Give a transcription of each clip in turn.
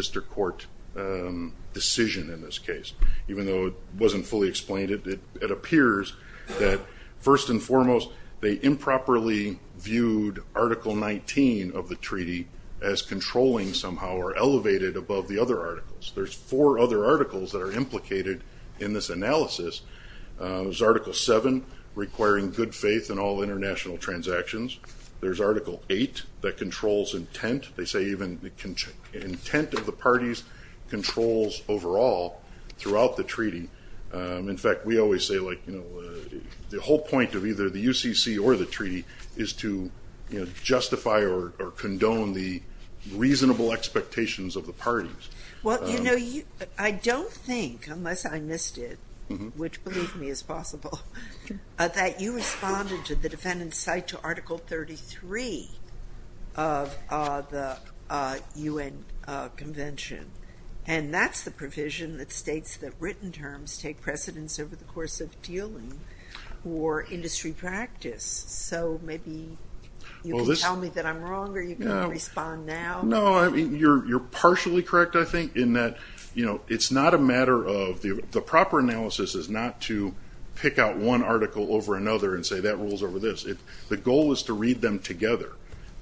VLM Food Trading International v. Illinois Trading VLM Food Trading International v. Illinois Trading Company VLM Food Trading International v. Illinois Trading Company VLM Food Trading International v. Illinois Trading Company VLM Food Trading International v. Illinois Trading Company VLM Food Trading International v. Illinois Trading Company VLM Food Trading International v. Illinois Trading Company Article 7. Requiring good faith in all international transactions. Article 8. Controls intent of the parties, controls overall throughout the treaty. In fact, we always say the whole point of either the UCC or the treaty is to justify or condone the reasonable expectations of the parties. Well, you know, I don't think, unless I missed it, which believe me is possible, that you responded to the defendant's cite to Article 33 of the UN Convention. And that's the provision that states that written terms take precedence over the course of dealing or industry practice. So maybe you can tell me that I'm wrong or you can respond now. No, I mean, you're partially correct, I think, in that, you know, it's not a matter of, the proper analysis is not to pick out one article over another and say that rules over this. The goal is to read them together.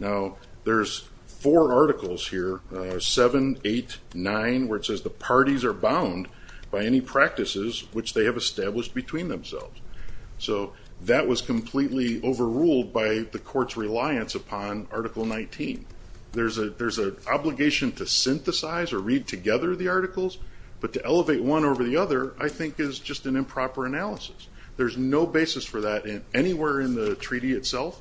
Now, there's four articles here, 7, 8, 9, where it says the parties are bound by any practices which they have established between themselves. So that was completely overruled by the court's reliance upon Article 19. There's an obligation to synthesize or read together the articles, but to elevate one over the other, I think, is just an improper analysis. There's no basis for that anywhere in the treaty itself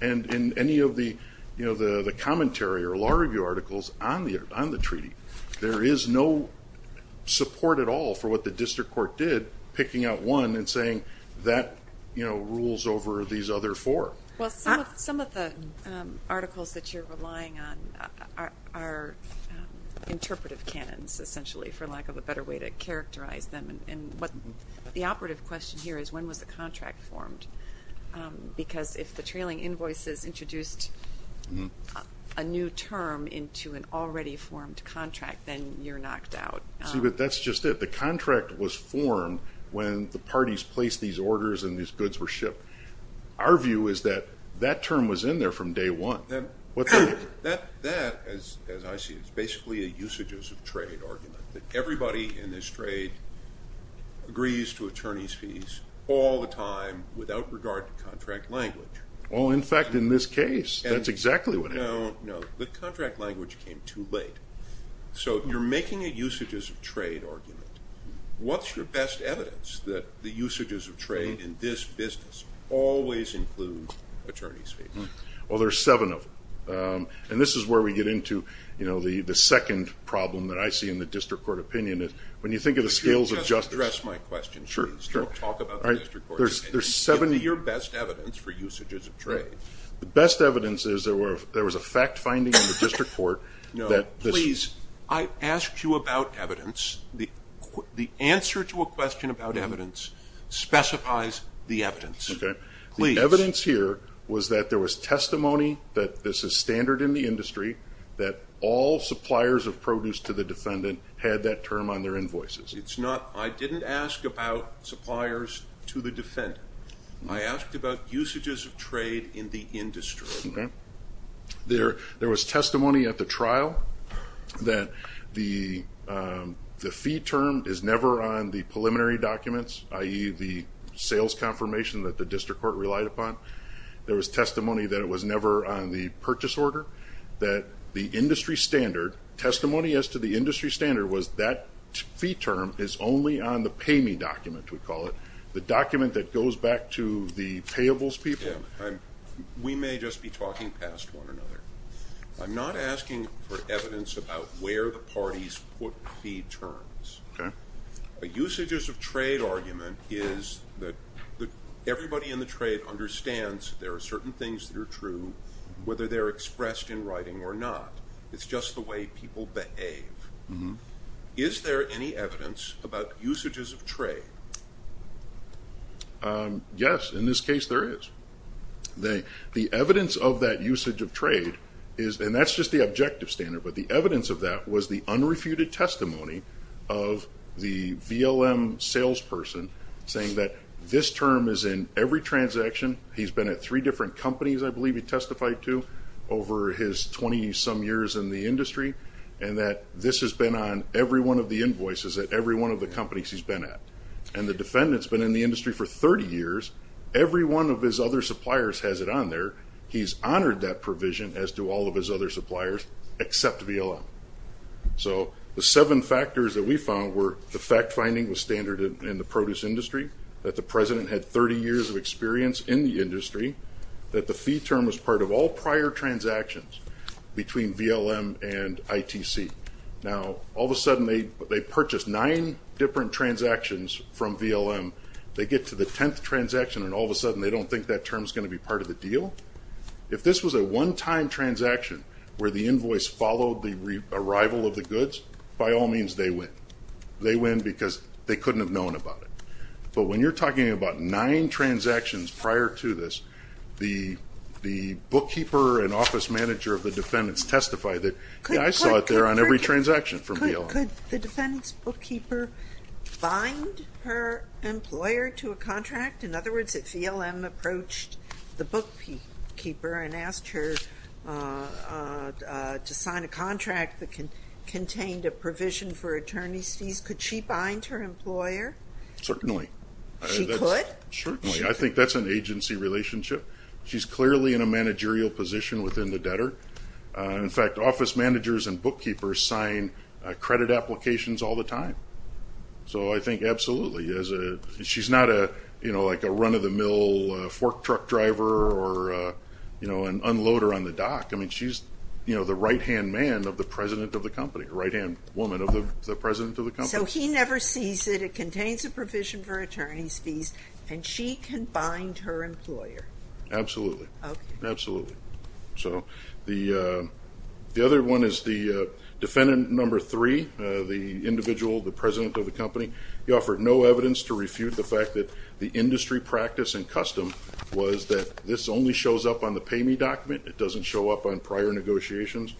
and in any of the, you know, the commentary or law review articles on the treaty. There is no support at all for what the district court did, picking out one and saying that, you know, rules over these other four. Well, some of the articles that you're relying on are interpretive canons, essentially, for lack of a better way to characterize them. And what the operative question here is, when was the contract formed? Because if the trailing invoices introduced a new term into an already formed contract, then you're knocked out. See, but that's just it. The contract was formed when the parties placed these orders and these goods were shipped. Our view is that that term was in there from day one. That, as I see it, is basically a usages of trade argument, that everybody in this trade agrees to attorney's fees all the time without regard to contract language. Well, in fact, in this case, that's exactly what happened. No, no. The contract language came too late. So you're making a usages of trade argument. What's your best evidence that the usages of trade in this business always include attorney's fees? Well, there's seven of them. And this is where we get into, you know, the second problem that I see in the district court opinion is when you think of the skills of justice. Let me just address my question, please. Sure. Don't talk about the district court. There's seven. Give me your best evidence for usages of trade. The best evidence is there was a fact finding in the district court. No, please. I asked you about evidence. The answer to a question about evidence specifies the evidence. Okay. Please. The evidence here was that there was testimony that this is standard in the industry, that all suppliers of produce to the defendant had that term on their invoices. It's not. I didn't ask about suppliers to the defendant. I asked about usages of trade in the industry. Okay. There was testimony at the trial that the fee term is never on the preliminary documents, i.e., the sales confirmation that the district court relied upon. There was testimony that it was never on the purchase order, that the industry standard, testimony as to the industry standard, was that fee term is only on the pay me document, we call it, the document that goes back to the payables people. We may just be talking past one another. I'm not asking for evidence about where the parties put fee terms. Okay. A usages of trade argument is that everybody in the trade understands there are certain things that are true, whether they're expressed in writing or not. It's just the way people behave. Is there any evidence about usages of trade? Yes. In this case, there is. The evidence of that usage of trade is, and that's just the objective standard, but the evidence of that was the unrefuted testimony of the VLM salesperson saying that this term is in every transaction. He's been at three different companies, I believe he testified to, over his 20-some years in the industry, and that this has been on every one of the invoices at every one of the companies he's been at. And the defendant's been in the industry for 30 years. Every one of his other suppliers has it on there. He's honored that provision, as do all of his other suppliers, except VLM. So the seven factors that we found were the fact-finding was standard in the produce industry, that the President had 30 years of experience in the industry, that the fee term was part of all prior transactions between VLM and ITC. Now, all of a sudden they purchased nine different transactions from VLM, they get to the 10th transaction and all of a sudden they don't think that term is going to be part of the deal. If this was a one-time transaction where the invoice followed the arrival of the goods, by all means they win. They win because they couldn't have known about it. But when you're talking about nine transactions prior to this, the bookkeeper and office manager of the defendants testified that, yeah, I saw it there on every transaction from VLM. Could the defendant's bookkeeper find her employer to a contract? In other words, if VLM approached the bookkeeper and asked her to sign a contract that contained a provision for attorney's fees, could she bind her employer? Certainly. She could? Certainly. I think that's an agency relationship. She's clearly in a managerial position within the debtor. In fact, office managers and bookkeepers sign credit applications all the time. So I think absolutely. She's not a run-of-the-mill fork truck driver or an unloader on the dock. I mean, she's the right-hand man of the president of the company, right-hand woman of the president of the company. So he never sees it. It contains a provision for attorney's fees, and she can bind her employer? Absolutely. Okay. Absolutely. So the other one is the defendant number three, the individual, the president of the company. He offered no evidence to refute the fact that the industry practice and custom was that this only shows up on the payme document. It doesn't show up on prior negotiations.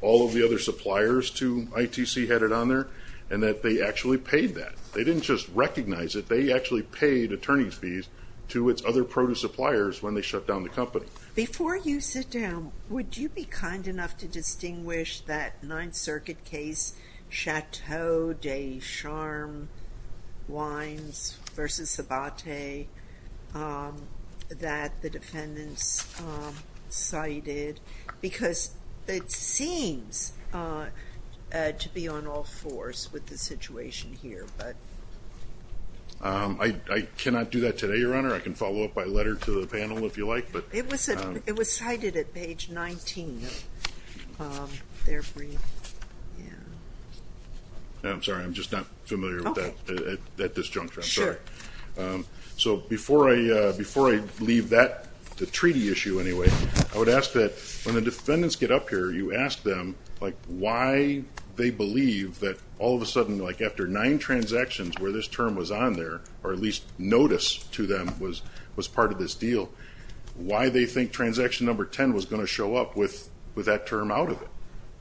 All of the other suppliers to ITC had it on there, and that they actually paid that. They didn't just recognize it. They actually paid attorney's fees to its other produce suppliers when they shut down the company. Before you sit down, would you be kind enough to distinguish that Ninth Circuit case, Chateau de Charm Wines v. Sabate, that the defendants cited because it seems to be on all fours with the situation here. I cannot do that today, Your Honor. I can follow up by letter to the panel if you like. It was cited at page 19. I'm sorry. I'm just not familiar with that at this juncture. I'm sorry. Sure. So before I leave the treaty issue anyway, I would ask that when the defendants get up here, you ask them why they believe that all of a sudden, after nine transactions where this term was on there, or at least notice to them was part of this deal, why they think transaction number 10 was going to show up with that term out of it.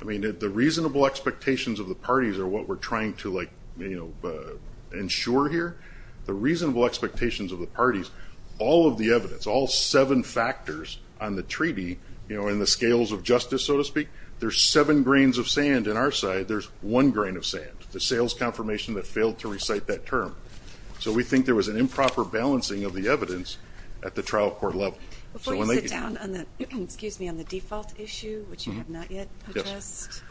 I mean, the reasonable expectations of the parties are what we're trying to ensure here. The reasonable expectations of the parties, all of the evidence, all seven factors on the treaty, in the scales of justice, so to speak, there's seven grains of sand on our side. There's one grain of sand, the sales confirmation that failed to recite that term. So we think there was an improper balancing of the evidence at the trial court level. Before you sit down on the default issue, which you have not yet addressed,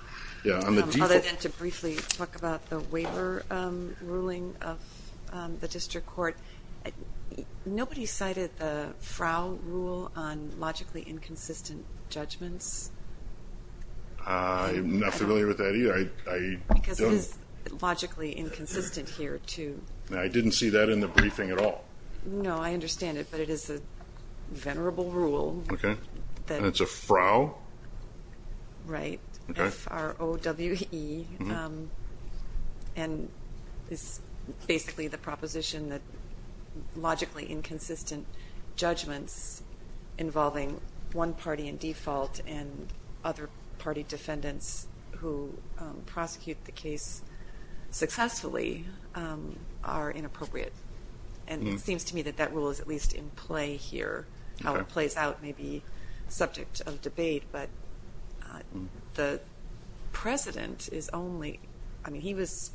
other than to briefly talk about the waiver ruling of the district court, nobody cited the frow rule on logically inconsistent judgments? I'm not familiar with that either. Because it is logically inconsistent here, too. I didn't see that in the briefing at all. No, I understand it, but it is a venerable rule. Okay. And it's a frow? Right. Okay. F-r-o-w-e. And it's basically the proposition that logically inconsistent judgments involving one party in default and other party defendants who prosecute the case successfully are inappropriate. And it seems to me that that rule is at least in play here. How it plays out may be a subject of debate, but the president is only – I mean, he was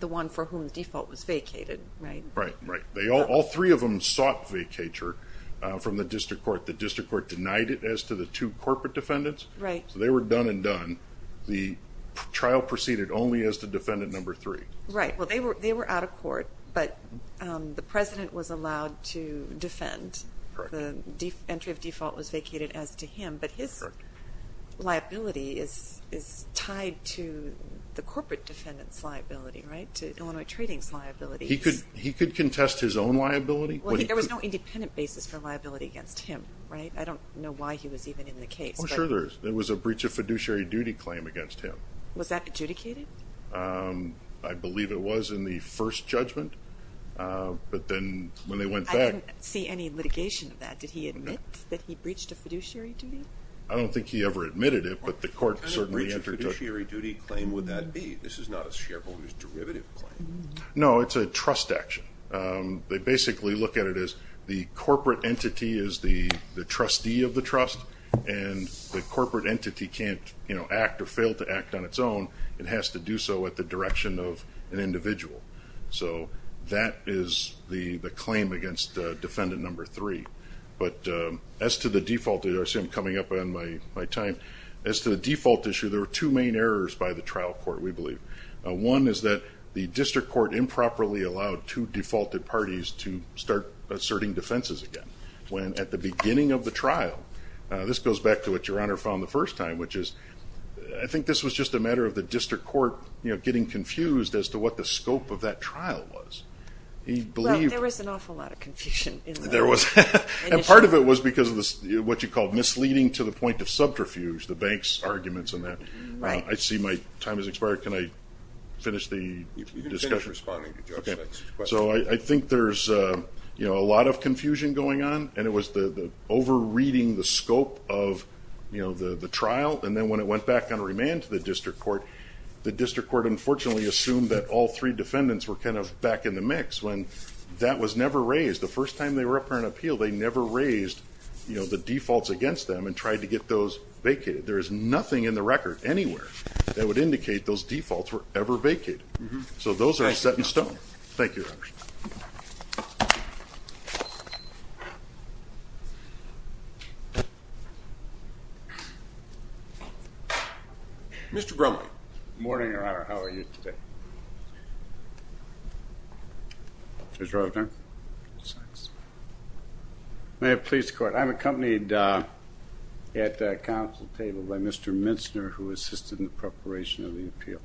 the one for whom the default was vacated, right? Right, right. All three of them sought vacatur from the district court. The district court denied it as to the two corporate defendants. Right. So they were done and done. The trial proceeded only as to defendant number three. Well, they were out of court, but the president was allowed to defend. Correct. The entry of default was vacated as to him. Correct. But his liability is tied to the corporate defendant's liability, right, to Illinois Trading's liability. He could contest his own liability. Well, there was no independent basis for liability against him, right? I don't know why he was even in the case. Oh, sure there is. There was a breach of fiduciary duty claim against him. Was that adjudicated? I believe it was in the first judgment, but then when they went back – I didn't see any litigation of that. Did he admit that he breached a fiduciary duty? I don't think he ever admitted it, but the court certainly – What kind of breach of fiduciary duty claim would that be? This is not a shareholders' derivative claim. No, it's a trust action. They basically look at it as the corporate entity is the trustee of the trust, and the corporate entity can't act or fail to act on its own. It has to do so at the direction of an individual. So that is the claim against defendant number three. But as to the default – I see I'm coming up on my time. As to the default issue, there were two main errors by the trial court, we believe. One is that the district court improperly allowed two defaulted parties to start asserting defenses again. When at the beginning of the trial – this goes back to what Your Honor found the first time, which is – I think this was just a matter of the district court getting confused as to what the scope of that trial was. Well, there was an awful lot of confusion. There was. And part of it was because of what you called misleading to the point of subterfuge, the bank's arguments on that. I see my time has expired. Can I finish the discussion? You can finish responding to Judge Fetch's question. So I think there's a lot of confusion going on, and it was the over-reading the scope of the trial, and then when it went back on remand to the district court, the district court unfortunately assumed that all three defendants were kind of back in the mix when that was never raised. The first time they were up for an appeal, they never raised the defaults against them and tried to get those vacated. There is nothing in the record anywhere that would indicate those defaults were ever vacated. So those are set in stone. Thank you, Your Honor. Mr. Brumman. Good morning, Your Honor. How are you today? Mr. Rosner. May it please the Court. I'm accompanied at the council table by Mr. Minster, who assisted in the preparation of the appeal.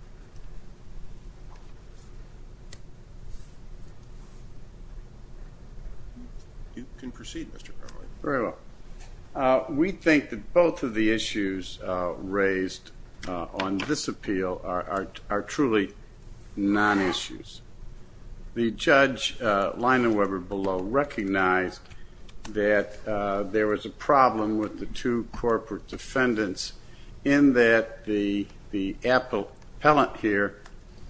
You can proceed, Mr. Brumman. Very well. We think that both of the issues raised on this appeal are truly non-issues. The judge, Lina Weber, below, recognized that there was a problem with the two corporate defendants in that the appellant here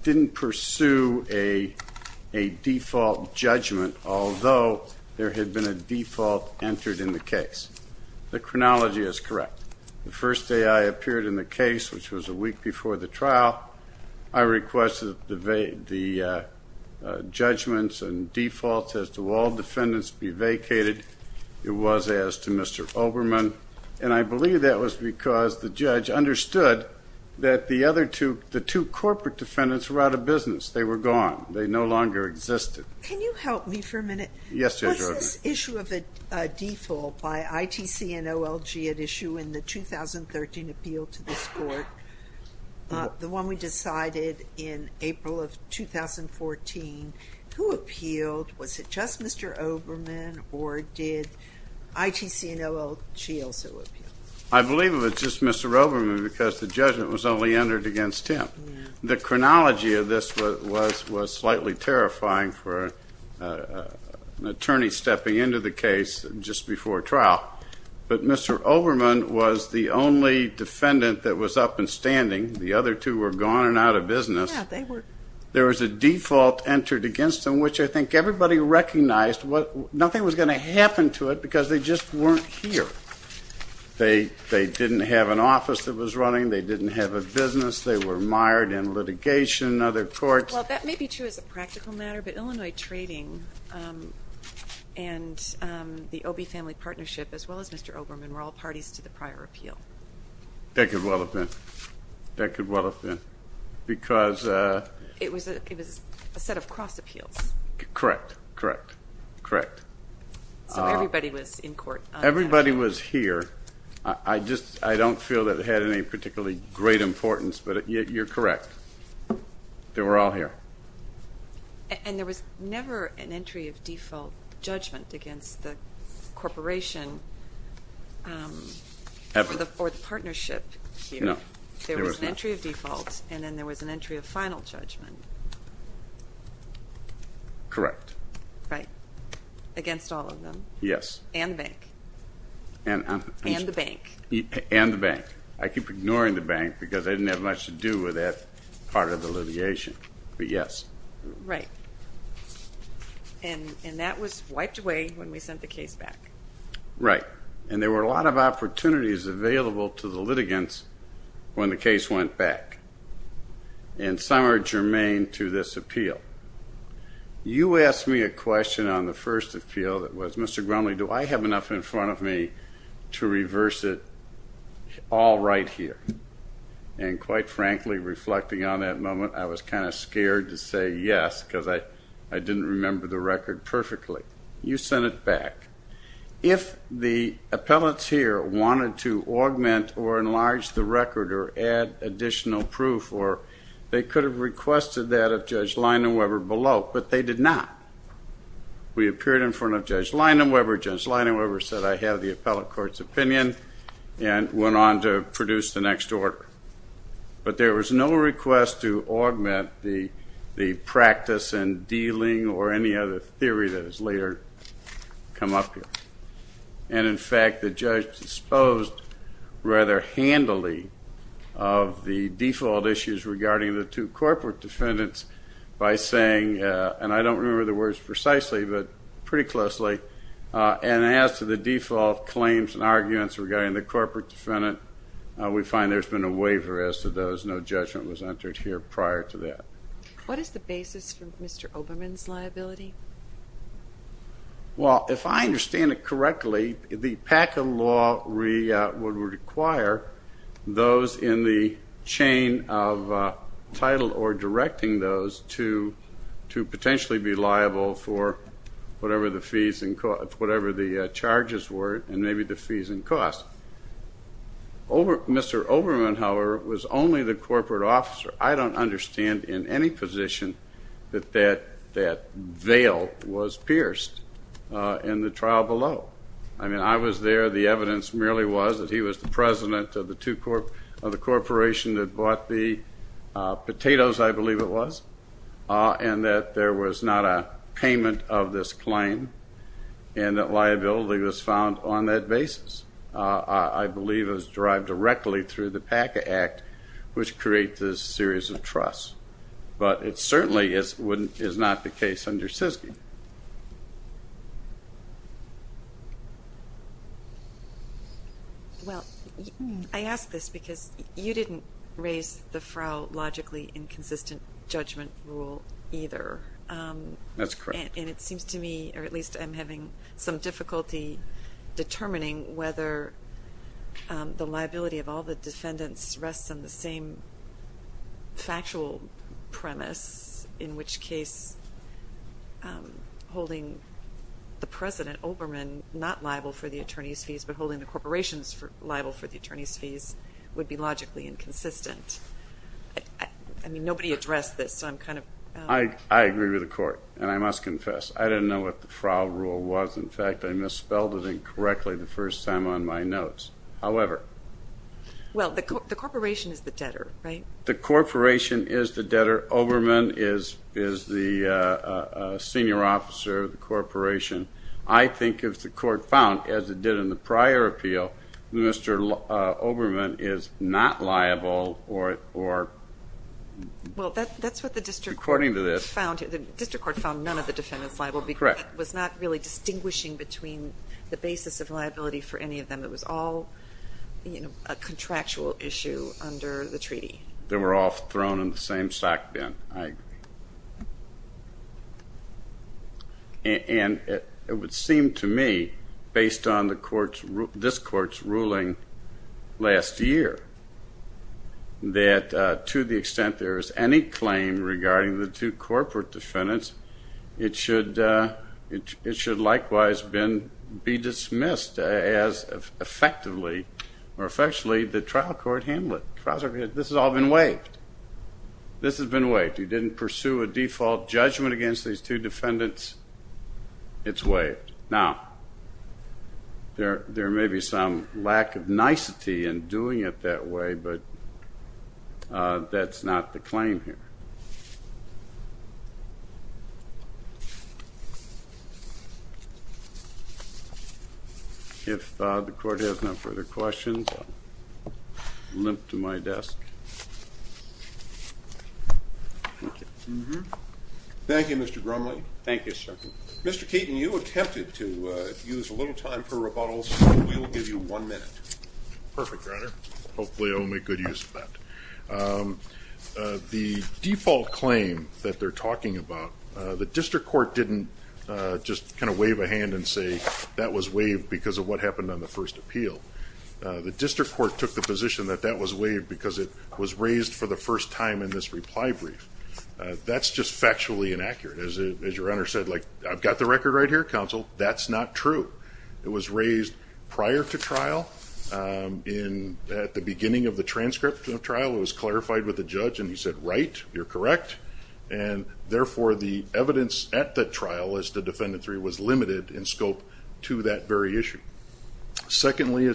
didn't pursue a default judgment, although there had been a default entered in the case. The chronology is correct. The first day I appeared in the case, which was a week before the trial, I requested the judgments and defaults as to all defendants be vacated. It was as to Mr. Oberman, and I believe that was because the judge understood that the two corporate defendants were out of business. They were gone. They no longer existed. Can you help me for a minute? Yes, Judge Rosner. Was this issue of a default by ITC and OLG at issue in the 2013 appeal to this in April of 2014? Who appealed? Was it just Mr. Oberman, or did ITC and OLG also appeal? I believe it was just Mr. Oberman because the judgment was only entered against him. The chronology of this was slightly terrifying for an attorney stepping into the case just before trial, but Mr. Oberman was the only defendant that was up and standing. The other two were gone and out of business. Yes, they were. There was a default entered against them, which I think everybody recognized nothing was going to happen to it because they just weren't here. They didn't have an office that was running. They didn't have a business. They were mired in litigation, other courts. Well, that may be true as a practical matter, but Illinois Trading and the Obie Family Partnership as well as Mr. Oberman were all parties to the prior appeal. That could well have been. That could well have been. It was a set of cross appeals. Correct, correct, correct. So everybody was in court. Everybody was here. I don't feel that it had any particularly great importance, but you're correct. They were all here. And there was never an entry of default judgment against the corporation or the partnership here. No, there was not. There was an entry of default and then there was an entry of final judgment. Correct. Right, against all of them. Yes. And the bank. And the bank. And the bank. I keep ignoring the bank because I didn't have much to do with that part of the litigation, but yes. Right. And that was wiped away when we sent the case back. Right. And there were a lot of opportunities available to the litigants when the case went back. And some are germane to this appeal. You asked me a question on the first appeal that was, Mr. Grumley, do I have enough in front of me to reverse it all right here? And quite frankly, reflecting on that moment, I was kind of scared to say yes because I didn't remember the record perfectly. You sent it back. If the appellate here wanted to augment or enlarge the record or add additional proof or they could have requested that of Judge Leinem Weber below, but they did not. We appeared in front of Judge Leinem Weber. Judge Leinem Weber said I have the appellate court's opinion and went on to produce the next order. But there was no request to augment the practice in dealing or any other theory that has later come up here. And, in fact, the judge disposed rather handily of the default issues regarding the two corporate defendants by saying, and I don't remember the words precisely but pretty closely, and as to the default claims and arguments regarding the corporate defendant, we find there's been a waiver as to those. No judgment was entered here prior to that. What is the basis for Mr. Oberman's liability? Well, if I understand it correctly, the PACA law would require those in the chain of title or directing those to potentially be liable for whatever the charges were and maybe the fees and costs. Mr. Oberman, however, was only the corporate officer. I don't understand in any position that that veil was pierced in the trial below. I mean, I was there. The evidence merely was that he was the president of the corporation that bought the potatoes, I believe it was, and that there was not a payment of this claim and that liability was found on that basis. I believe it was derived directly through the PACA Act, which creates this series of trusts. But it certainly is not the case under SISGI. Well, I ask this because you didn't raise the frail, logically inconsistent judgment rule either. That's correct. And it seems to me, or at least I'm having some difficulty determining whether the liability of all the defendants rests on the same factual premise, in which case holding the president, Oberman, not liable for the attorney's fees, but holding the corporations liable for the attorney's fees, would be logically inconsistent. I mean, nobody addressed this, so I'm kind of... I agree with the Court, and I must confess, I didn't know what the frail rule was. In fact, I misspelled it incorrectly the first time on my notes. However... Well, the corporation is the debtor, right? The corporation is the debtor. Oberman is the senior officer of the corporation. I think if the Court found, as it did in the prior appeal, that Mr. Oberman is not liable or... Well, that's what the district court found. According to this... The district court found none of the defendants liable... Correct. It was not really distinguishing between the basis of liability for any of them. It was all a contractual issue under the treaty. They were all thrown in the same sock bin. I agree. And it would seem to me, based on this Court's ruling last year, that to the extent there is any claim regarding the two corporate defendants, it should likewise be dismissed as effectively the trial court handled it. This has all been waived. This has been waived. You didn't pursue a default judgment against these two defendants. It's waived. Now, there may be some lack of nicety in doing it that way, but that's not the claim here. If the Court has no further questions, I'll limp to my desk. Thank you. Thank you, Mr. Grumley. Thank you, sir. Mr. Keaton, you attempted to use a little time for rebuttals. We'll give you one minute. Perfect, Your Honor. Hopefully I'll make good use of that. The default claim that they're talking about, the district court didn't just kind of wave a hand and say that was waived because of what happened on the first appeal. The district court took the position that that was waived because it was raised for the first time in this reply brief. That's just factually inaccurate. As your Honor said, like, I've got the record right here, Counsel. That's not true. It was raised prior to trial. At the beginning of the transcript of the trial, it was clarified with the judge, and he said, right, you're correct. And, therefore, the evidence at the trial as to Defendant 3 was limited in scope to that very issue. Secondly,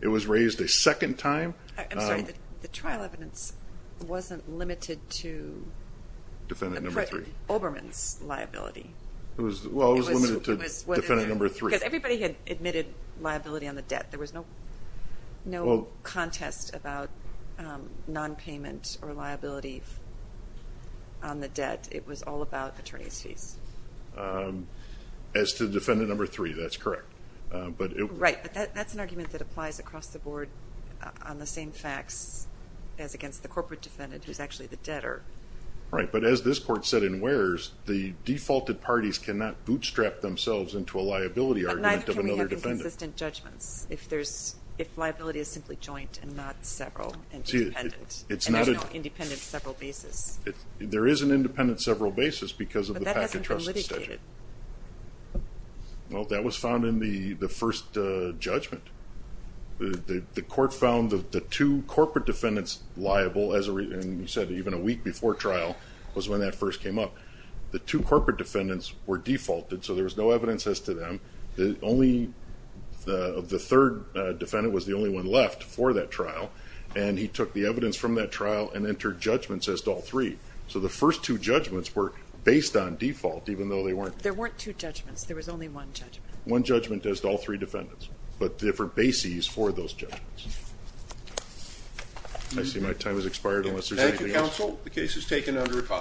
it was raised a second time. I'm sorry, the trial evidence wasn't limited to Oberman's liability. Well, it was limited to Defendant 3. Because everybody had admitted liability on the debt. There was no contest about nonpayment or liability on the debt. It was all about attorney's fees. As to Defendant 3, that's correct. Right, but that's an argument that applies across the board on the same facts as against the corporate defendant who's actually the debtor. Right, but as this court said in Wares, the defaulted parties cannot bootstrap themselves into a liability argument of another defendant. But can we have inconsistent judgments if liability is simply joint and not several and independent? And there's no independent several basis. There is an independent several basis because of the packet trusts. But that hasn't been litigated. Well, that was found in the first judgment. The court found the two corporate defendants liable, and said even a week before trial was when that first came up. The two corporate defendants were defaulted, so there was no evidence as to them. The third defendant was the only one left for that trial, and he took the evidence from that trial and entered judgments as to all three. So the first two judgments were based on default, even though they weren't. There weren't two judgments. There was only one judgment. One judgment as to all three defendants, but different bases for those judgments. I see my time has expired unless there's anything else. Thank you, counsel. The case is taken under review.